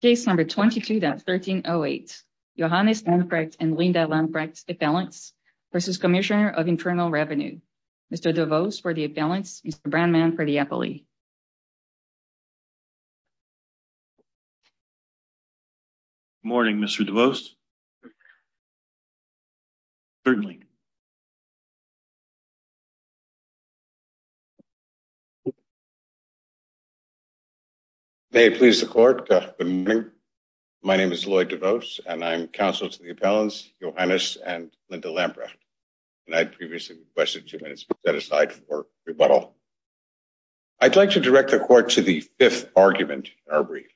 Case number 22-1308 Johannes Lamprecht and Linda Lamprecht Appellants v. Cmsnr of Internal Revenue. Mr. DeVos for the appellants, Mr. Brownman for the appellee. Good morning Mr. DeVos. Certainly. May it please the court. Good morning. My name is Lloyd DeVos and I'm counsel to the appellants Johannes and Linda Lamprecht and I previously requested two minutes set aside for rebuttal. I'd like to direct the court to the fifth argument in our brief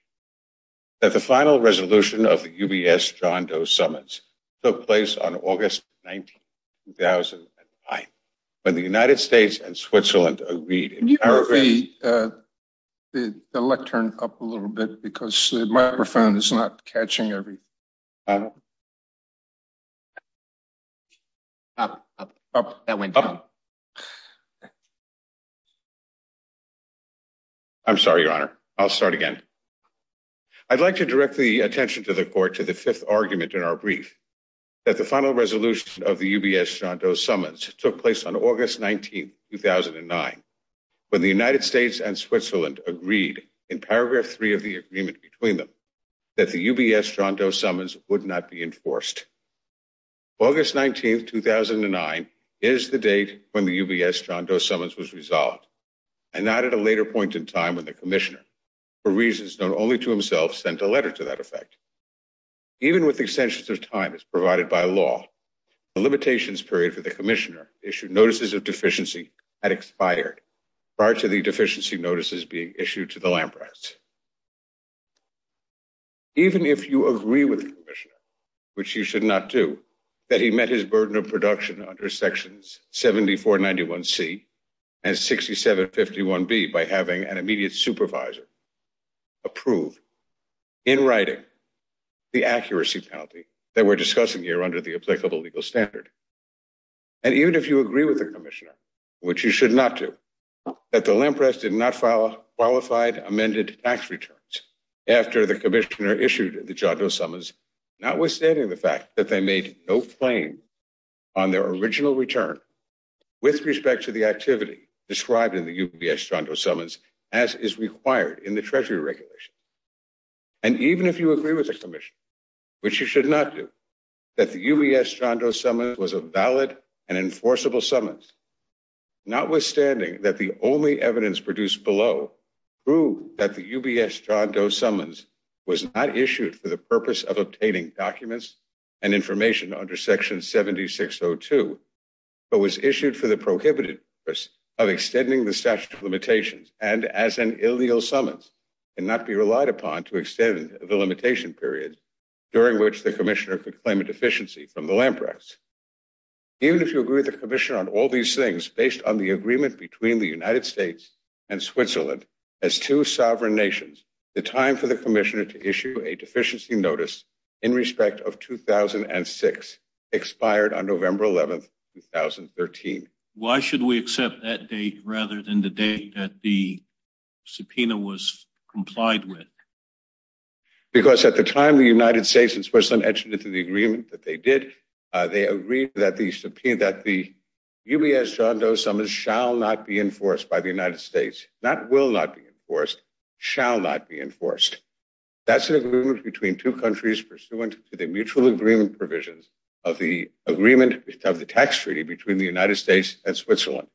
that the final resolution of the UBS John Doe summits took place on August 19, 2009 when the United States and Switzerland agreed. Can you move the lectern up a little bit because the microphone is not catching everything. Up, up, up. That went down. I'm sorry your honor. I'll start again. I'd like to direct the attention to the court to the fifth argument in our brief that the final resolution of the UBS John Doe summits took place on August 19, 2009 when the United States and Switzerland agreed in paragraph three of the agreement between that the UBS John Doe summons would not be enforced. August 19, 2009 is the date when the UBS John Doe summons was resolved and not at a later point in time when the commissioner for reasons known only to himself sent a letter to that effect. Even with the extensions of time as provided by law, the limitations period for the commissioner issued notices of deficiency had expired prior to deficiency notices being issued to the Lampras. Even if you agree with the commissioner, which you should not do, that he met his burden of production under sections 7491c and 6751b by having an immediate supervisor approve in writing the accuracy penalty that we're discussing here under the applicable legal standard. And even if you agree with the commissioner, which you should not do, that the Lampras did not file qualified amended tax returns after the commissioner issued the John Doe summons, notwithstanding the fact that they made no claim on their original return with respect to the activity described in the UBS John Doe summons as is required in the treasury regulation. And even if you agree with the commission, which you should not do, that the UBS John Doe summons was a valid and enforceable summons, notwithstanding that the only evidence produced below proved that the UBS John Doe summons was not issued for the purpose of obtaining documents and information under section 7602, but was issued for the prohibited purpose of extending the statute of limitations and as an illegal summons and not be relied upon to extend the limitation period during which the commissioner could claim a deficiency from the Lampras. Even if you agree with the commission on all these things based on the agreement between the United States and Switzerland as two sovereign nations, the time for the commissioner to issue a deficiency notice in respect of 2006 expired on November 11, 2013. Why should we accept that date rather than the date that the subpoena was complied with? Because at the time the United States and Switzerland entered into the agreement that they did, they agreed that the UBS John Doe summons shall not be enforced by the United States, not will not be enforced, shall not be enforced. That's an agreement between two countries pursuant to the mutual agreement provisions of the agreement of the tax treaty between the United States and Switzerland.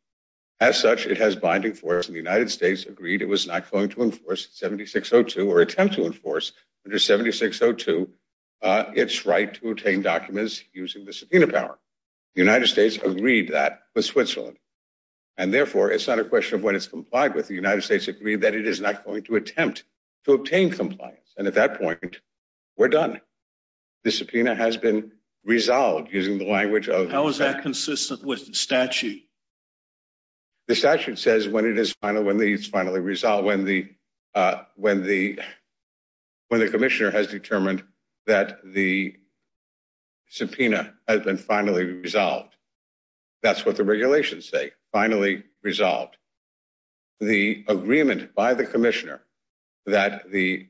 As such, it has binding force and the United States agreed it was not going to enforce 7602 or attempt to enforce under 7602 its right to obtain documents using the subpoena power. The United States agreed that with Switzerland and therefore it's not a question of what it's complied with. The United States agreed that it is not going to attempt to obtain compliance and at that point we're done. The subpoena has been resolved using the language of... How is that consistent with the statute? The statute says when it is final, when it's finally resolved, when the commissioner has determined that the subpoena has been finally resolved. That's what the regulations say, finally resolved. The agreement by the commissioner that the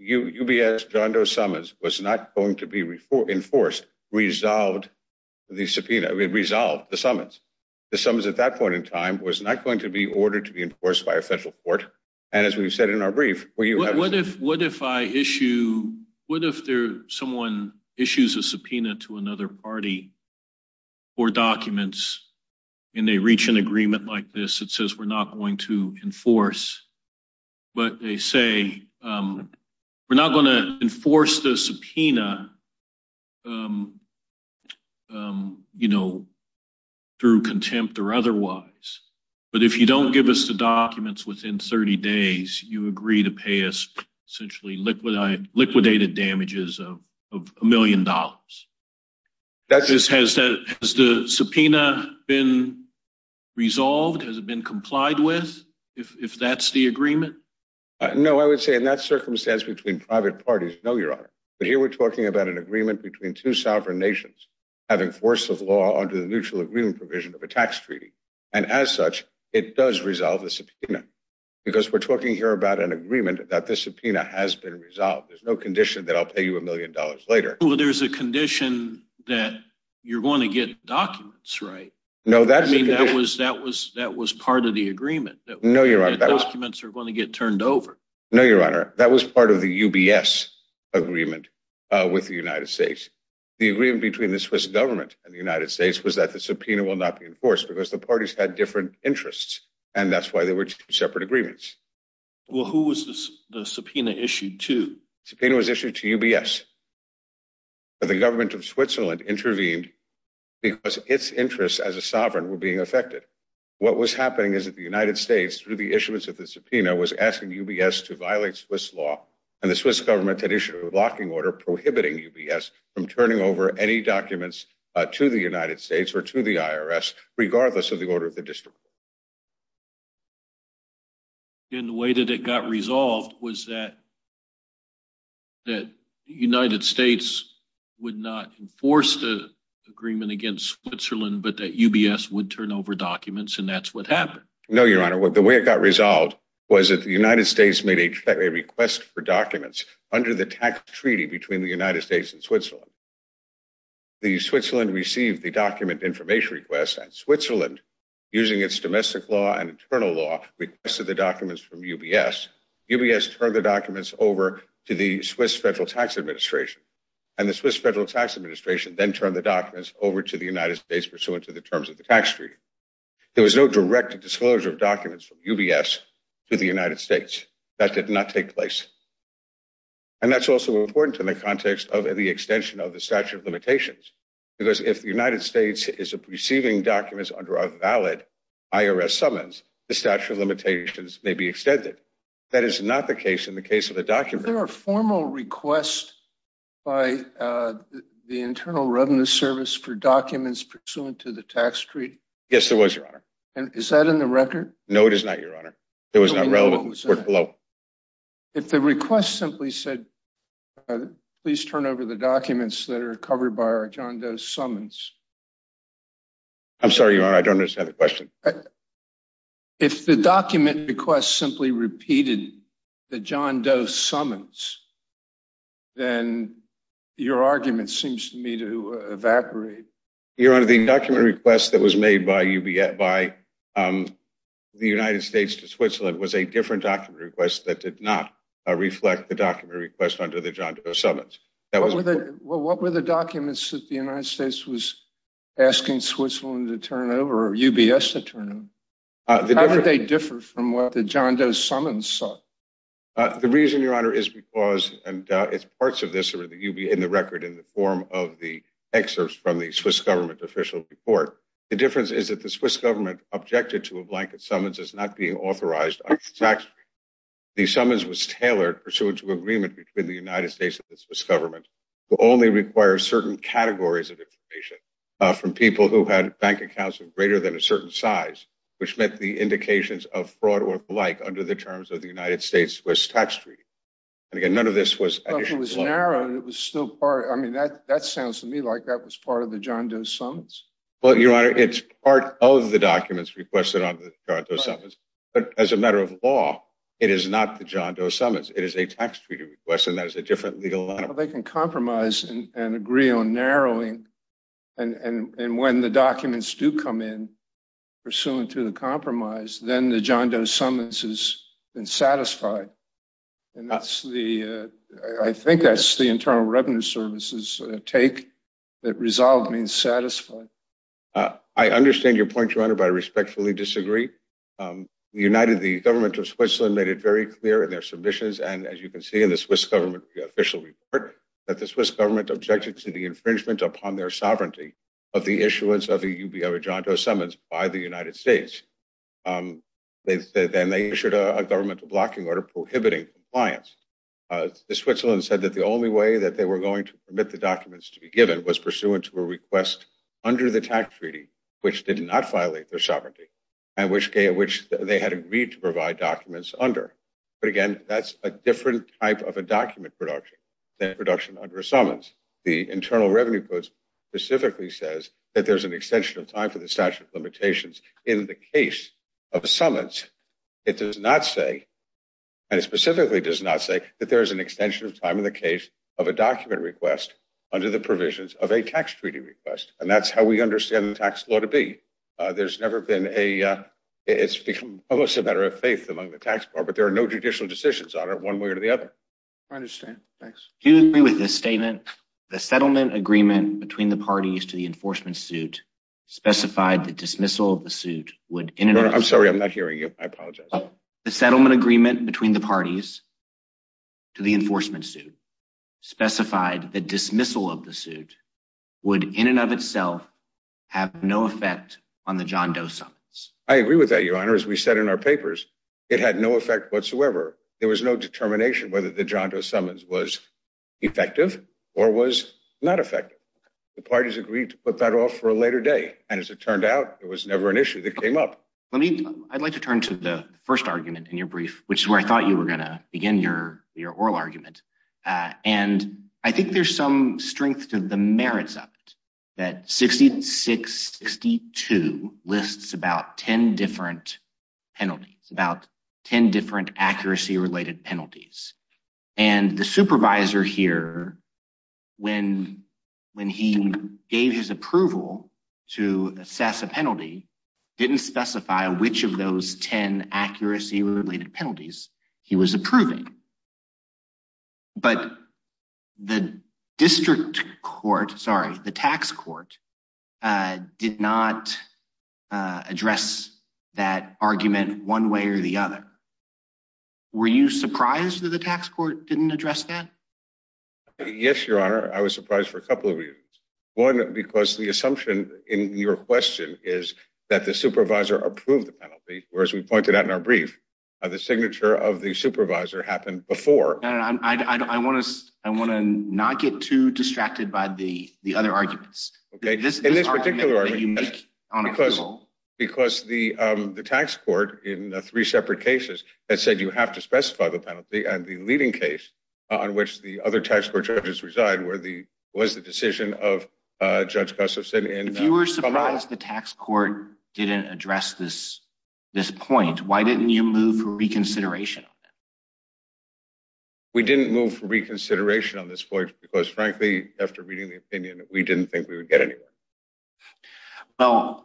UBS John Doe summons was not going to be enforced resolved the subpoena, resolved the summons. The summons at that point in time was not going to be ordered to be enforced by a federal court and as we've said in our brief... What if someone issues a subpoena to another party for documents and they reach an agreement like this that says we're not going to enforce but they say we're not going to enforce the subpoena through contempt or otherwise. But if you don't give us the documents within 30 days you agree to pay us essentially liquidated damages of a million dollars. Has the subpoena been resolved? Has it been complied with if that's the agreement? No, I would say in that circumstance between private parties, no your honor. But here we're talking about an agreement between two sovereign nations having force of law under the mutual agreement provision of a tax treaty and as such it does resolve the subpoena because we're talking here about an agreement that the subpoena has been resolved. There's no condition that I'll pay you a million dollars later. There's a condition that you're going to get documents right? No, that was part of the UBS agreement with the United States. The agreement between the Swiss government and the United States was that the subpoena will not be enforced because the parties had different interests and that's why they were two separate agreements. Well who was the subpoena issued to? Subpoena was issued to UBS. The government of Switzerland intervened because its interests as a sovereign were being affected. What was happening is that the United States through the issuance of the subpoena was asking UBS to violate Swiss law and the Swiss government had issued a blocking order prohibiting UBS from turning over any documents to the United States or to the IRS regardless of the order of the district court. And the way that it got resolved was that the United States would not enforce the agreement against Switzerland but that UBS would over documents and that's what happened. No your honor, the way it got resolved was that the United States made a request for documents under the tax treaty between the United States and Switzerland. The Switzerland received the document information request and Switzerland using its domestic law and internal law requested the documents from UBS. UBS turned the documents over to the Swiss federal tax administration and the Swiss federal tax administration then turned the documents over to the United States pursuant to the terms of the tax treaty. There was no direct disclosure of documents from UBS to the United States. That did not take place. And that's also important in the context of the extension of the statute of limitations because if the United States is receiving documents under a valid IRS summons the statute of limitations may be extended. That is not the case in the case of the document. Was there a formal request by the Internal Revenue Service for documents pursuant to the tax treaty? Yes there was your honor. And is that in the record? No it is not your honor. It was not relevant. If the request simply said please turn over the documents that are covered by our John Doe summons. I'm sorry your honor I don't understand the question. If the document request simply repeated the John Doe summons then your argument seems to me to evaporate. Your honor the document request that was made by the United States to Switzerland was a different document request that did not reflect the document request under the John Doe summons. What were the documents that the United States was asking Switzerland to turn over or UBS to turn over? How did they differ from what the John Doe summons saw? The reason your honor is because and it's parts of this or that you'll be in the record in the form of the excerpts from the Swiss government official report. The difference is that the Swiss government objected to a blanket summons as not being authorized under the tax treaty. The summons was tailored pursuant to agreement between the United States and the Swiss government who only require certain categories of from people who had bank accounts of greater than a certain size which meant the indications of fraud or the like under the terms of the United States was tax treaty. And again none of this was narrow and it was still part I mean that that sounds to me like that was part of the John Doe summons. Well your honor it's part of the documents requested on the current summons but as a matter of law it is not the John Doe summons it is a tax treaty request and that is a different legal they can compromise and agree on narrowing and and when the documents do come in pursuant to the compromise then the John Doe summons has been satisfied and that's the I think that's the internal revenue services take that resolved means satisfied. I understand your point your honor but I respectfully disagree. United the government of Switzerland made it very clear in their submissions and as you can see in the Swiss government official that the Swiss government objected to the infringement upon their sovereignty of the issuance of the UBI John Doe summons by the United States. Then they issued a governmental blocking order prohibiting compliance. The Switzerland said that the only way that they were going to permit the documents to be given was pursuant to a request under the tax treaty which did not violate their sovereignty and which which they had agreed to provide documents under. But again that's a different type of a document production than production under a summons. The internal revenue codes specifically says that there's an extension of time for the statute of limitations in the case of summons it does not say and it specifically does not say that there is an extension of time in the case of a document request under the provisions of a tax treaty request and that's how we understand the tax law to be. There's never been a it's become almost a matter of faith among the tax bar but there are no additional decisions on it one way or the other. I understand thanks. Do you agree with this statement the settlement agreement between the parties to the enforcement suit specified the dismissal of the suit would in and of itself. I'm sorry I'm not hearing you I apologize. The settlement agreement between the parties to the enforcement suit specified the dismissal of the suit would in and of itself have no effect on the John Doe summons. I agree with your honor as we said in our papers it had no effect whatsoever there was no determination whether the John Doe summons was effective or was not effective. The parties agreed to put that off for a later day and as it turned out there was never an issue that came up. Let me I'd like to turn to the first argument in your brief which is where I thought you were going to begin your your oral argument and I think there's some strength to the merits of it that 6662 lists about 10 different penalties about 10 different accuracy related penalties and the supervisor here when when he gave his approval to assess a penalty didn't specify which of those 10 accuracy related penalties he was approving but the district court sorry the tax court did not address that argument one way or the other were you surprised that the tax court didn't address that yes your honor I was surprised for a couple of reasons one because the assumption in your question is that the supervisor approved the penalty whereas we pointed out in our brief the signature of the supervisor happened before and I want to I want to not get too distracted by the other arguments okay in this particular argument because the tax court in the three separate cases that said you have to specify the penalty and the leading case on which the other tax court judges reside where the was the decision of Judge Gustafson and if you were surprised the tax court didn't address this this point why didn't you move for reconsideration on that we didn't move for reconsideration on this point because frankly after reading the opinion we didn't think we would get anywhere well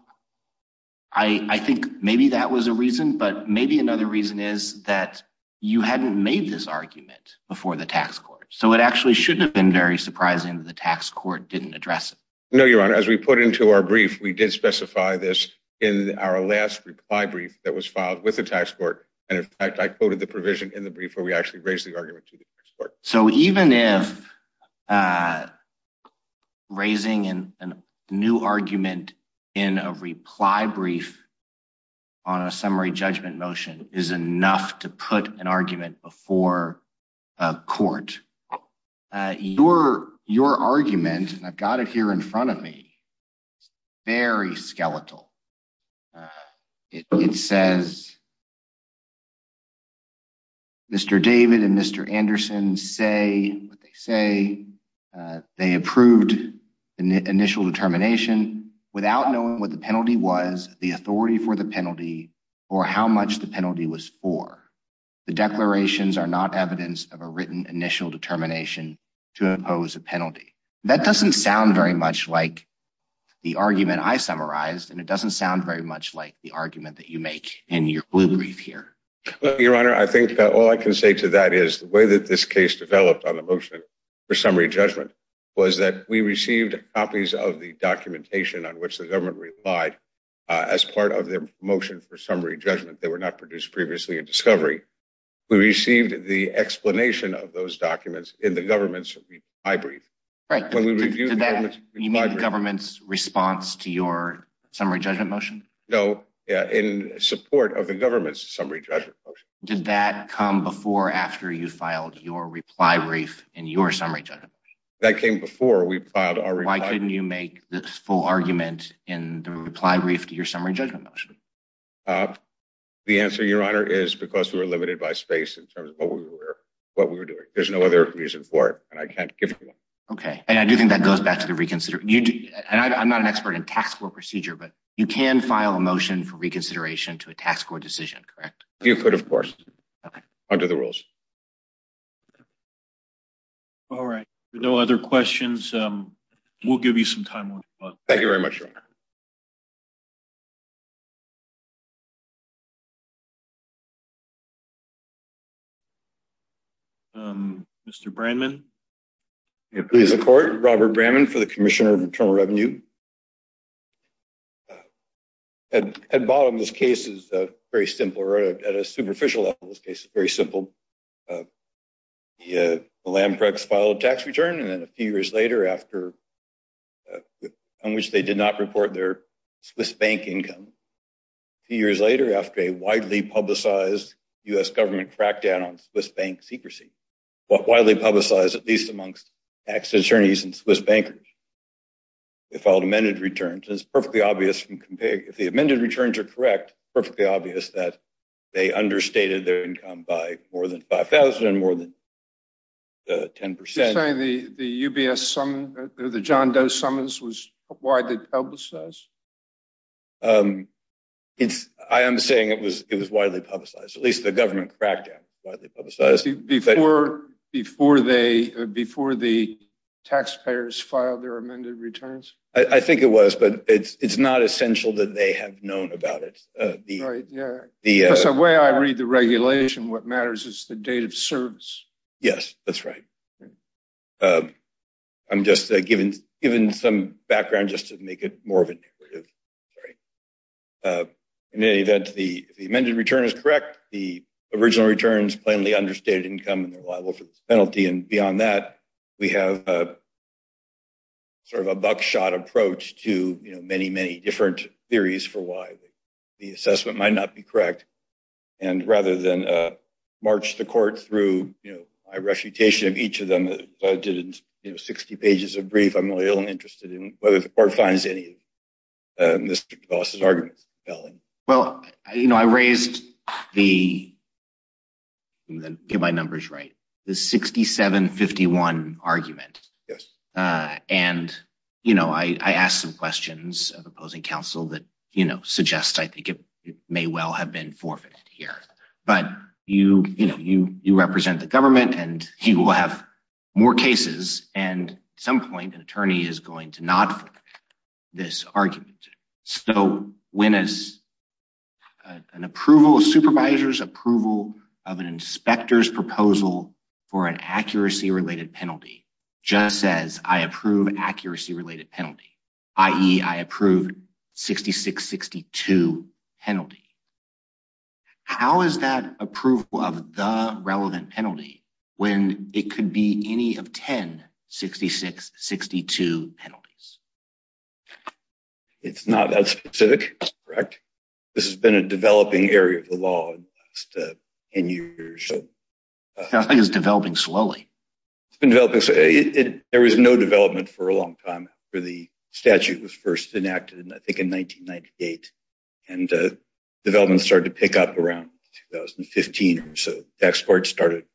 I I think maybe that was a reason but maybe another reason is that you hadn't made this argument before the tax court so it actually shouldn't have been very surprising that the tax court didn't address it no your honor as we put into our brief we did specify this in our last reply brief that was filed with the tax court and in the brief where we actually raised the argument to the tax court so even if uh raising in a new argument in a reply brief on a summary judgment motion is enough to put an argument before a court uh your your argument and I've got it here in front of me it's very skeletal uh it says Mr. David and Mr. Anderson say what they say they approved the initial determination without knowing what the penalty was the authority for the penalty or how much the penalty was for the declarations are not evidence of a written initial determination to impose a penalty that doesn't sound very much like the argument I summarized and it doesn't sound very much like the argument that you make in your blue brief here your honor I think that all I can say to that is the way that this case developed on the motion for summary judgment was that we received copies of the documentation on which the government relied as part of their motion for summary judgment they were not produced previously in discovery we received the explanation of those documents in the government's reply brief right when we no yeah in support of the government's summary judgment motion did that come before after you filed your reply brief in your summary judgment that came before we filed our why couldn't you make the full argument in the reply brief to your summary judgment motion uh the answer your honor is because we were limited by space in terms of what we were what we were doing there's no other reason for it and I can't give you one okay and I do think that goes back to the reconsider you do and I'm not an expert in tax court procedure but you can file a motion for reconsideration to a tax court decision correct you could of course okay under the rules all right no other questions um we'll give you some time thank you very much um mr brandman please accord robert brandman for the commissioner of internal revenue at bottom this case is a very simple road at a superficial level this case is very simple yeah the lamprex filed a tax return and then a few years later after uh on which they did not report their swiss bank income a few years later after a widely publicized u.s government crackdown on swiss bank secrecy what widely publicized at least amongst tax attorneys and swiss bankers they filed amended returns it's perfectly obvious from compare if the amended returns are correct perfectly obvious that they understated their income by more than 5 000 more than 10 percent the the ubs some the john does summons was widely publicized um it's i am saying it was it was widely publicized at least the government cracked down widely publicized before before they before the taxpayers filed their amended returns i i think it was but it's it's not essential that they have known about it uh the right yeah the way i read the regulation what matters is the date of service yes that's right um i'm just given given some background just to make it more of a negative sorry uh in any event the the amended return is correct the original returns plainly understated income and they're liable for this penalty and beyond that we have a sort of a buckshot approach to you know many many different theories for why the assessment might not be correct and rather than uh march the court through you know my reputation of each of them i did you know 60 pages of brief i'm really only interested in whether the court finds any of uh mr gloss's arguments well you know i raised the get my numbers right the 6751 argument yes uh and you know i i asked some questions of may well have been forfeited here but you you know you you represent the government and he will have more cases and some point an attorney is going to not this argument so when as an approval of supervisors approval of an inspector's proposal for an accuracy related just says i approve accuracy related penalty i.e i approved 66 62 penalty how is that approval of the relevant penalty when it could be any of 10 66 62 penalties it's not that specific correct this has been a developing area of the law 10 years so i think it's developing slowly it's been developing so it there was no development for a long time after the statute was first enacted and i think in 1998 and uh development started to pick up around 2015 or so tax court started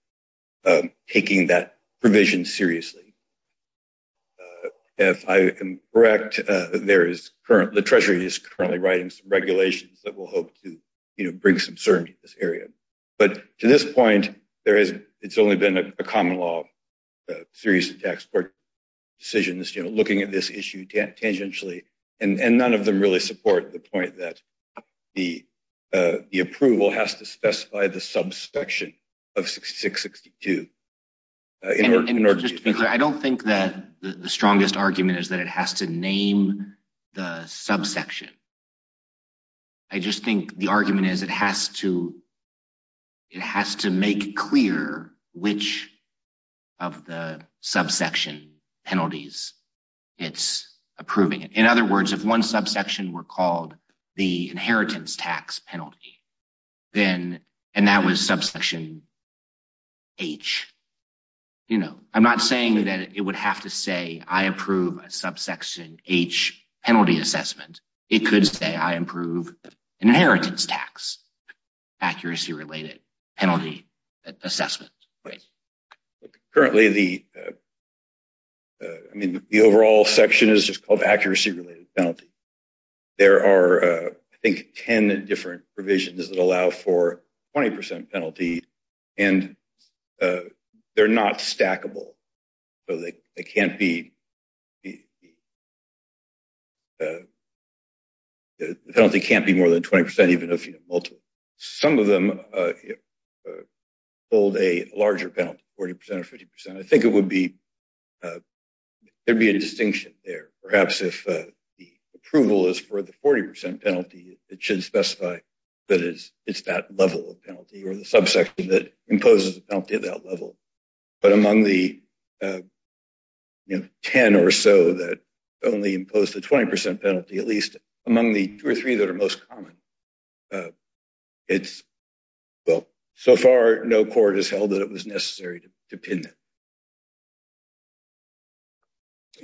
taking that provision seriously if i am correct uh there is current the treasury is currently writing some regulations that will you know bring some certainty to this area but to this point there is it's only been a common law series of tax court decisions you know looking at this issue tangentially and and none of them really support the point that the uh the approval has to specify the subsection of 66 62 i don't think that the strongest argument is that it has to name the subsection i just think the argument is it has to it has to make clear which of the subsection penalties it's approving it in other words if one subsection were called the inheritance tax penalty then and that was subsection h you know i'm not saying that it would have to say i approve a subsection h penalty assessment it could say i improve inheritance tax accuracy related penalty assessment right currently the i mean the overall section is just called accuracy related penalty there are i think 10 different provisions that allow for 20 penalty and uh they're not stackable so they can't be the penalty can't be more than 20 even if you have multiple some of them uh hold a larger penalty 40 or 50 i think it would be uh there'd be a distinction there perhaps if the approval is for the 40 penalty it should specify that it's it's that level of penalty or the subsection that imposes the penalty of that level but among the uh you know 10 or so that only impose the 20 penalty at least among the two or three that are most common it's well so far no court has held that it was necessary to pin it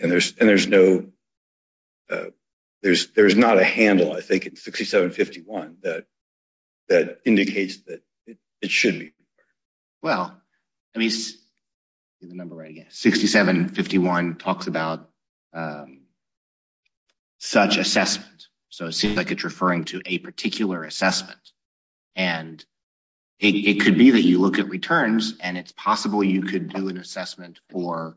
and there's and there's no uh there's there's not a handle i think it's 6751 that that indicates that it should be well i mean the number right again 6751 talks about such assessment so it seems like it's referring to a particular assessment and it could be that you look at returns and it's possible you could do an assessment for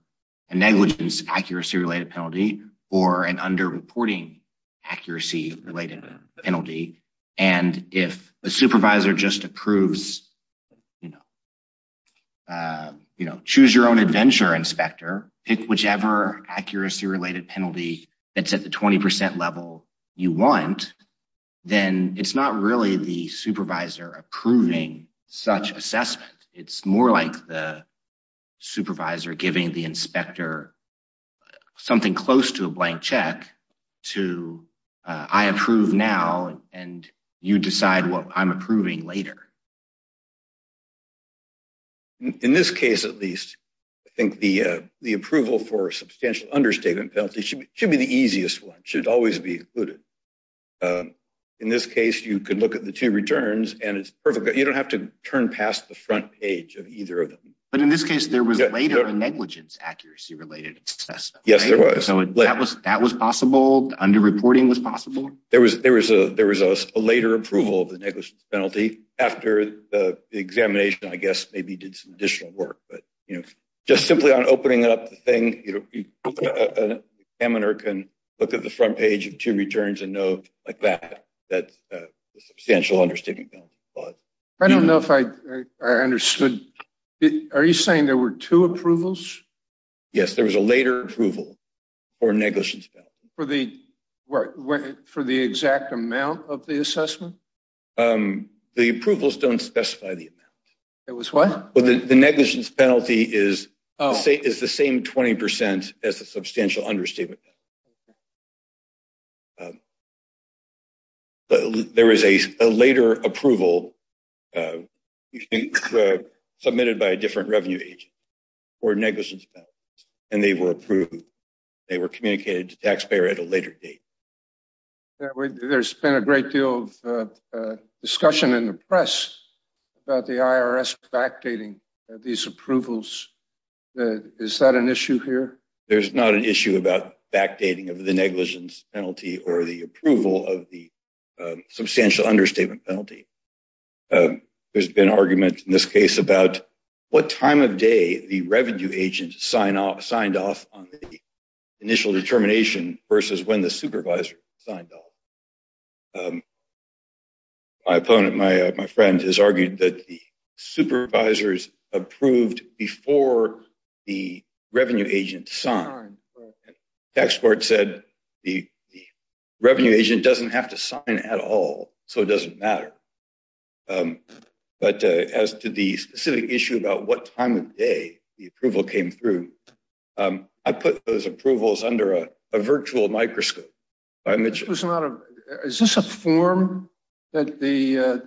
a negligence accuracy related penalty or an underreporting accuracy related penalty and if the supervisor just approves you know uh you know choose your own adventure inspector pick whichever accuracy related penalty that's at the 20 level you want then it's not really the supervisor approving such assessment it's more like the supervisor giving the inspector something close to a blank check to i approve now and you decide what i'm approving later in this case at least i think the uh the approval for a substantial understatement penalty should be the easiest one should always be included in this case you could look at the two returns and it's perfect you don't have to turn past the front page of either of them but in this case there was later a negligence accuracy related assessment yes there was so that was that was possible under reporting was possible there was there was a there was a later approval of the negligence penalty after the examination i guess maybe did some additional work but you know just simply on opening up the thing you know a examiner can look at the front page of two returns and know like that that's a substantial understatement penalty but i don't know if i i understood are you saying there were two approvals yes there was a later approval for negligence penalty for the work for the exact amount of the assessment um the approvals don't specify the amount it was what well the negligence penalty is oh say is the same 20 as the substantial understatement okay there is a later approval uh you think uh submitted by a different revenue agent or negligence and they were approved they were communicated to taxpayer at a later date there's been a great deal of uh discussion in the press about the irs backdating these approvals uh is that an issue here there's not an issue about backdating of the negligence penalty or the approval of the substantial understatement penalty there's been argument in this case about what time of day the revenue agent signed off signed off on the initial determination versus when the supervisor signed off my opponent my my friend has argued that the supervisors approved before the revenue agent signed tax court said the revenue agent doesn't have to sign at all so it doesn't matter um but uh as to the specific issue about what time of day the approval came through um i put those approvals under a virtual microscope i mentioned it's not a is this a form that the uh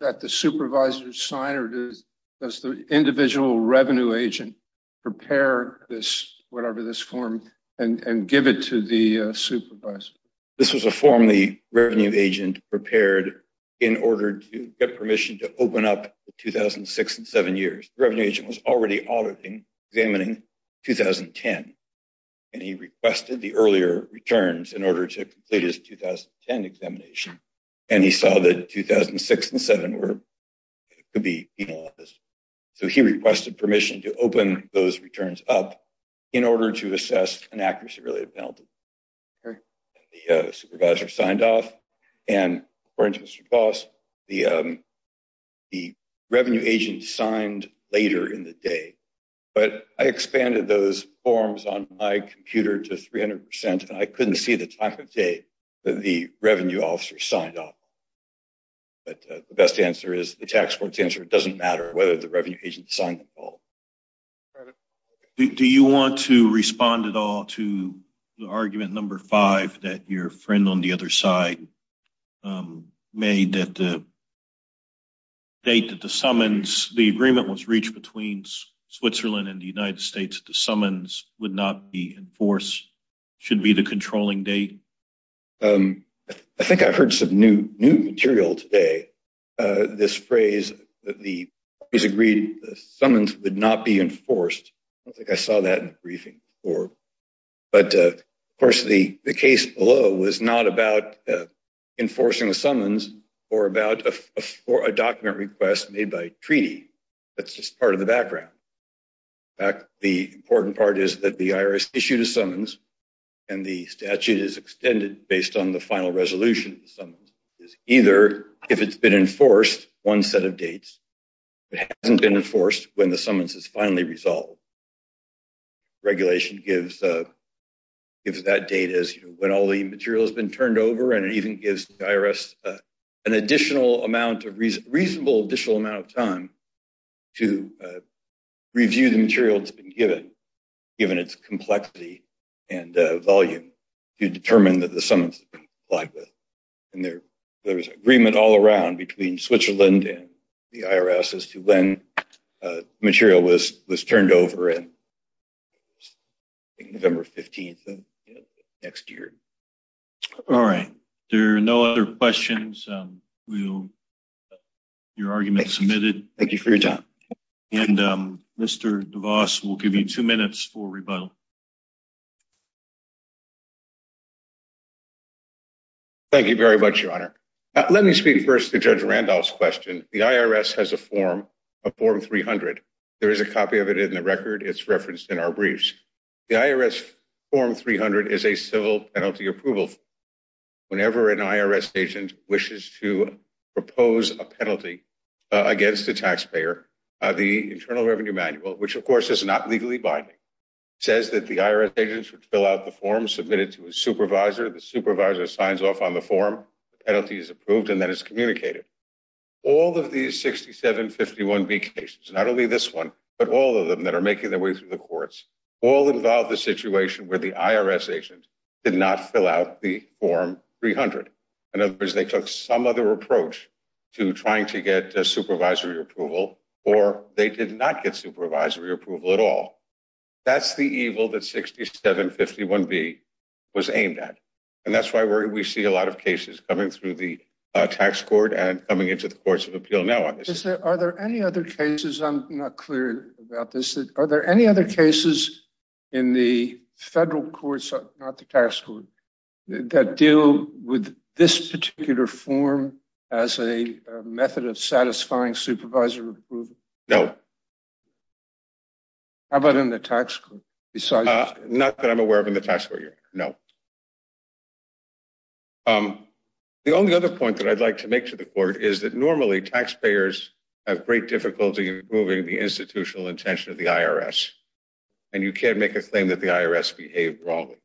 that the supervisors sign or does does the individual revenue agent prepare this whatever this form and and give it to the uh supervisor this was a form the revenue agent prepared in order to get permission to open up the 2006 and seven years revenue agent was already auditing examining 2010 and he requested the earlier returns in order to complete his 2010 examination and he saw that 2006 and seven were could be penalized so he requested permission to open those returns up in order to assess an accuracy related penalty the supervisor signed off and according to the cost the um the revenue agent signed later in the but i expanded those forms on my computer to 300 and i couldn't see the time of day that the revenue officer signed up but the best answer is the tax court's answer it doesn't matter whether the revenue agent signed the call do you want to respond at all to the argument number five that your friend on the other side um made that the date that the summons the agreement was reached between switzerland and the united states the summons would not be enforced should be the controlling date um i think i heard some new new material today uh this phrase that the he's agreed the summons would not be enforced i don't think i saw that in the briefing before but of course the the case below was not about enforcing the summons or about a for a document request made by treaty that's just part of the background back the important part is that the irs issued a summons and the statute is extended based on the final resolution of the summons is either if it's been enforced one set of dates it hasn't been enforced when the summons is finally resolved regulation gives uh gives that data as you know when all the material has been turned over and it even gives the to review the material that's been given given its complexity and volume to determine that the summons applied with and there there was agreement all around between switzerland and the irs as to when uh material was was turned over in november 15th next year all right there are no other questions um we'll your argument submitted thank you for your time and um mr devos will give you two minutes for rebuttal thank you very much your honor let me speak first to judge randolph's question the irs has a form of form 300 there is a copy of it in the record it's referenced in our briefs the irs form 300 is a civil penalty approval whenever an irs agent wishes to propose a penalty against the taxpayer the internal revenue manual which of course is not legally binding says that the irs agents would fill out the form submitted to a supervisor the supervisor signs off on the form the penalty is approved and then it's communicated all of these 6751b not only this one but all of them that are making their way through the courts all involve the situation where the irs agents did not fill out the form 300 in other words they took some other approach to trying to get a supervisory approval or they did not get supervisory approval at all that's the evil that 6751b was aimed at and that's why we see a lot of cases coming through the tax court and coming into the courts of appeal now on this is there are there any other cases i'm not clear about this are there any other cases in the federal courts not the tax court that deal with this particular form as a method of satisfying supervisory approval no how about in the tax court besides uh not that i'm aware of in the tax court here no um the only other point that i'd like to make to the court is that normally taxpayers have great difficulty improving the institutional intention of the irs and you can't make a claim that the irs behaved wrongly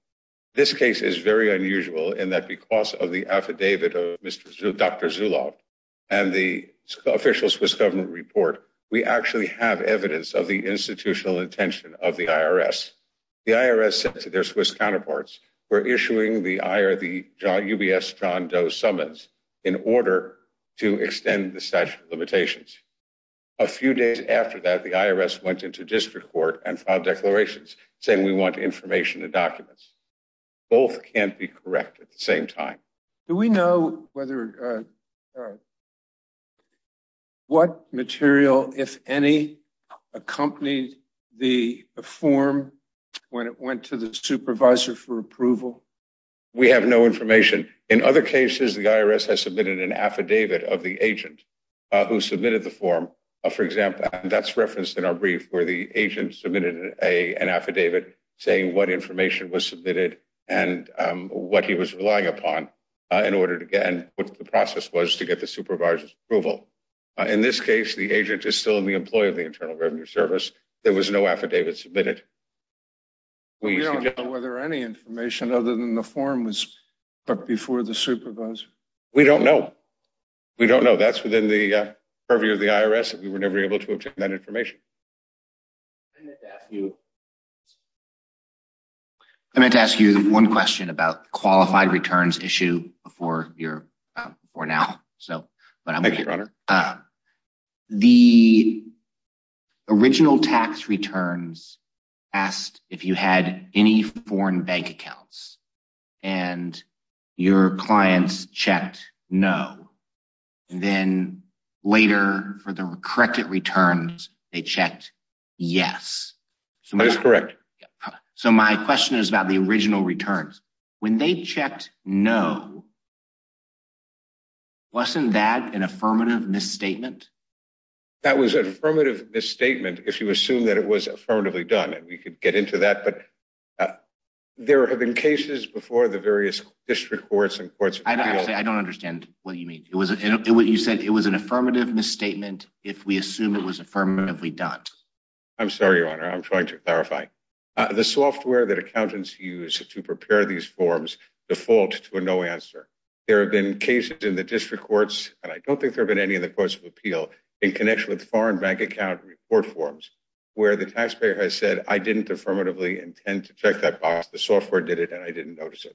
this case is very unusual in that because of the affidavit of mr dr zulov and the official swiss government report we actually have evidence of the institutional intention of the irs the irs said to their swiss counterparts we're issuing the ir the ubs john doe summons in order to extend the statute of limitations a few days after that the irs went into district court and filed declarations saying we want information and documents both can't be correct at the same time do we know whether uh all right what material if any accompanied the form when it went to the supervisor for approval we have no information in other cases the irs has submitted an affidavit of the agent who submitted the form for example that's referenced in our brief where the agent submitted a an affidavit saying what information was submitted and what he was relying upon in order to get and what the process was to get the supervisor's approval in this case the agent is still in the employee of the internal revenue service there was no affidavit submitted we don't know whether any information other than the form was but before the supervisor we don't know we don't know that's within the purview of the irs that we were never able to obtain that information i meant to ask you i meant to ask you one question about qualified returns issue before your for now so but i'm the original tax returns asked if you had any foreign bank accounts and your clients checked no then later for the corrected returns they checked yes so that's correct so my question is about the original returns when they checked no wasn't that an affirmative misstatement that was an affirmative misstatement if you assume that it was affirmatively done and we could get into that but there have been cases before the what do you mean it was it what you said it was an affirmative misstatement if we assume it was affirmatively done i'm sorry your honor i'm trying to clarify the software that accountants use to prepare these forms default to a no answer there have been cases in the district courts and i don't think there have been any of the courts of appeal in connection with foreign bank account report forms where the taxpayer has said i didn't affirmatively intend to check that box the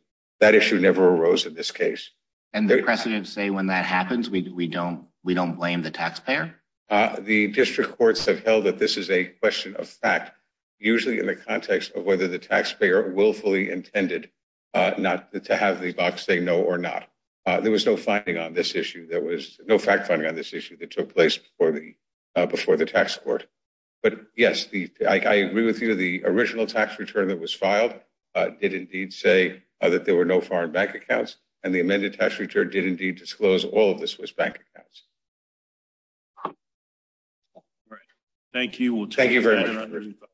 never arose in this case and the precedent say when that happens we don't we don't blame the taxpayer uh the district courts have held that this is a question of fact usually in the context of whether the taxpayer willfully intended uh not to have the box say no or not uh there was no finding on this issue there was no fact finding on this issue that took place before the uh before the tax court but yes the i agree with you the original tax return that was filed uh did indeed say that there were no foreign bank accounts and the amended tax return did indeed disclose all of the swiss bank accounts all right thank you we'll thank you very much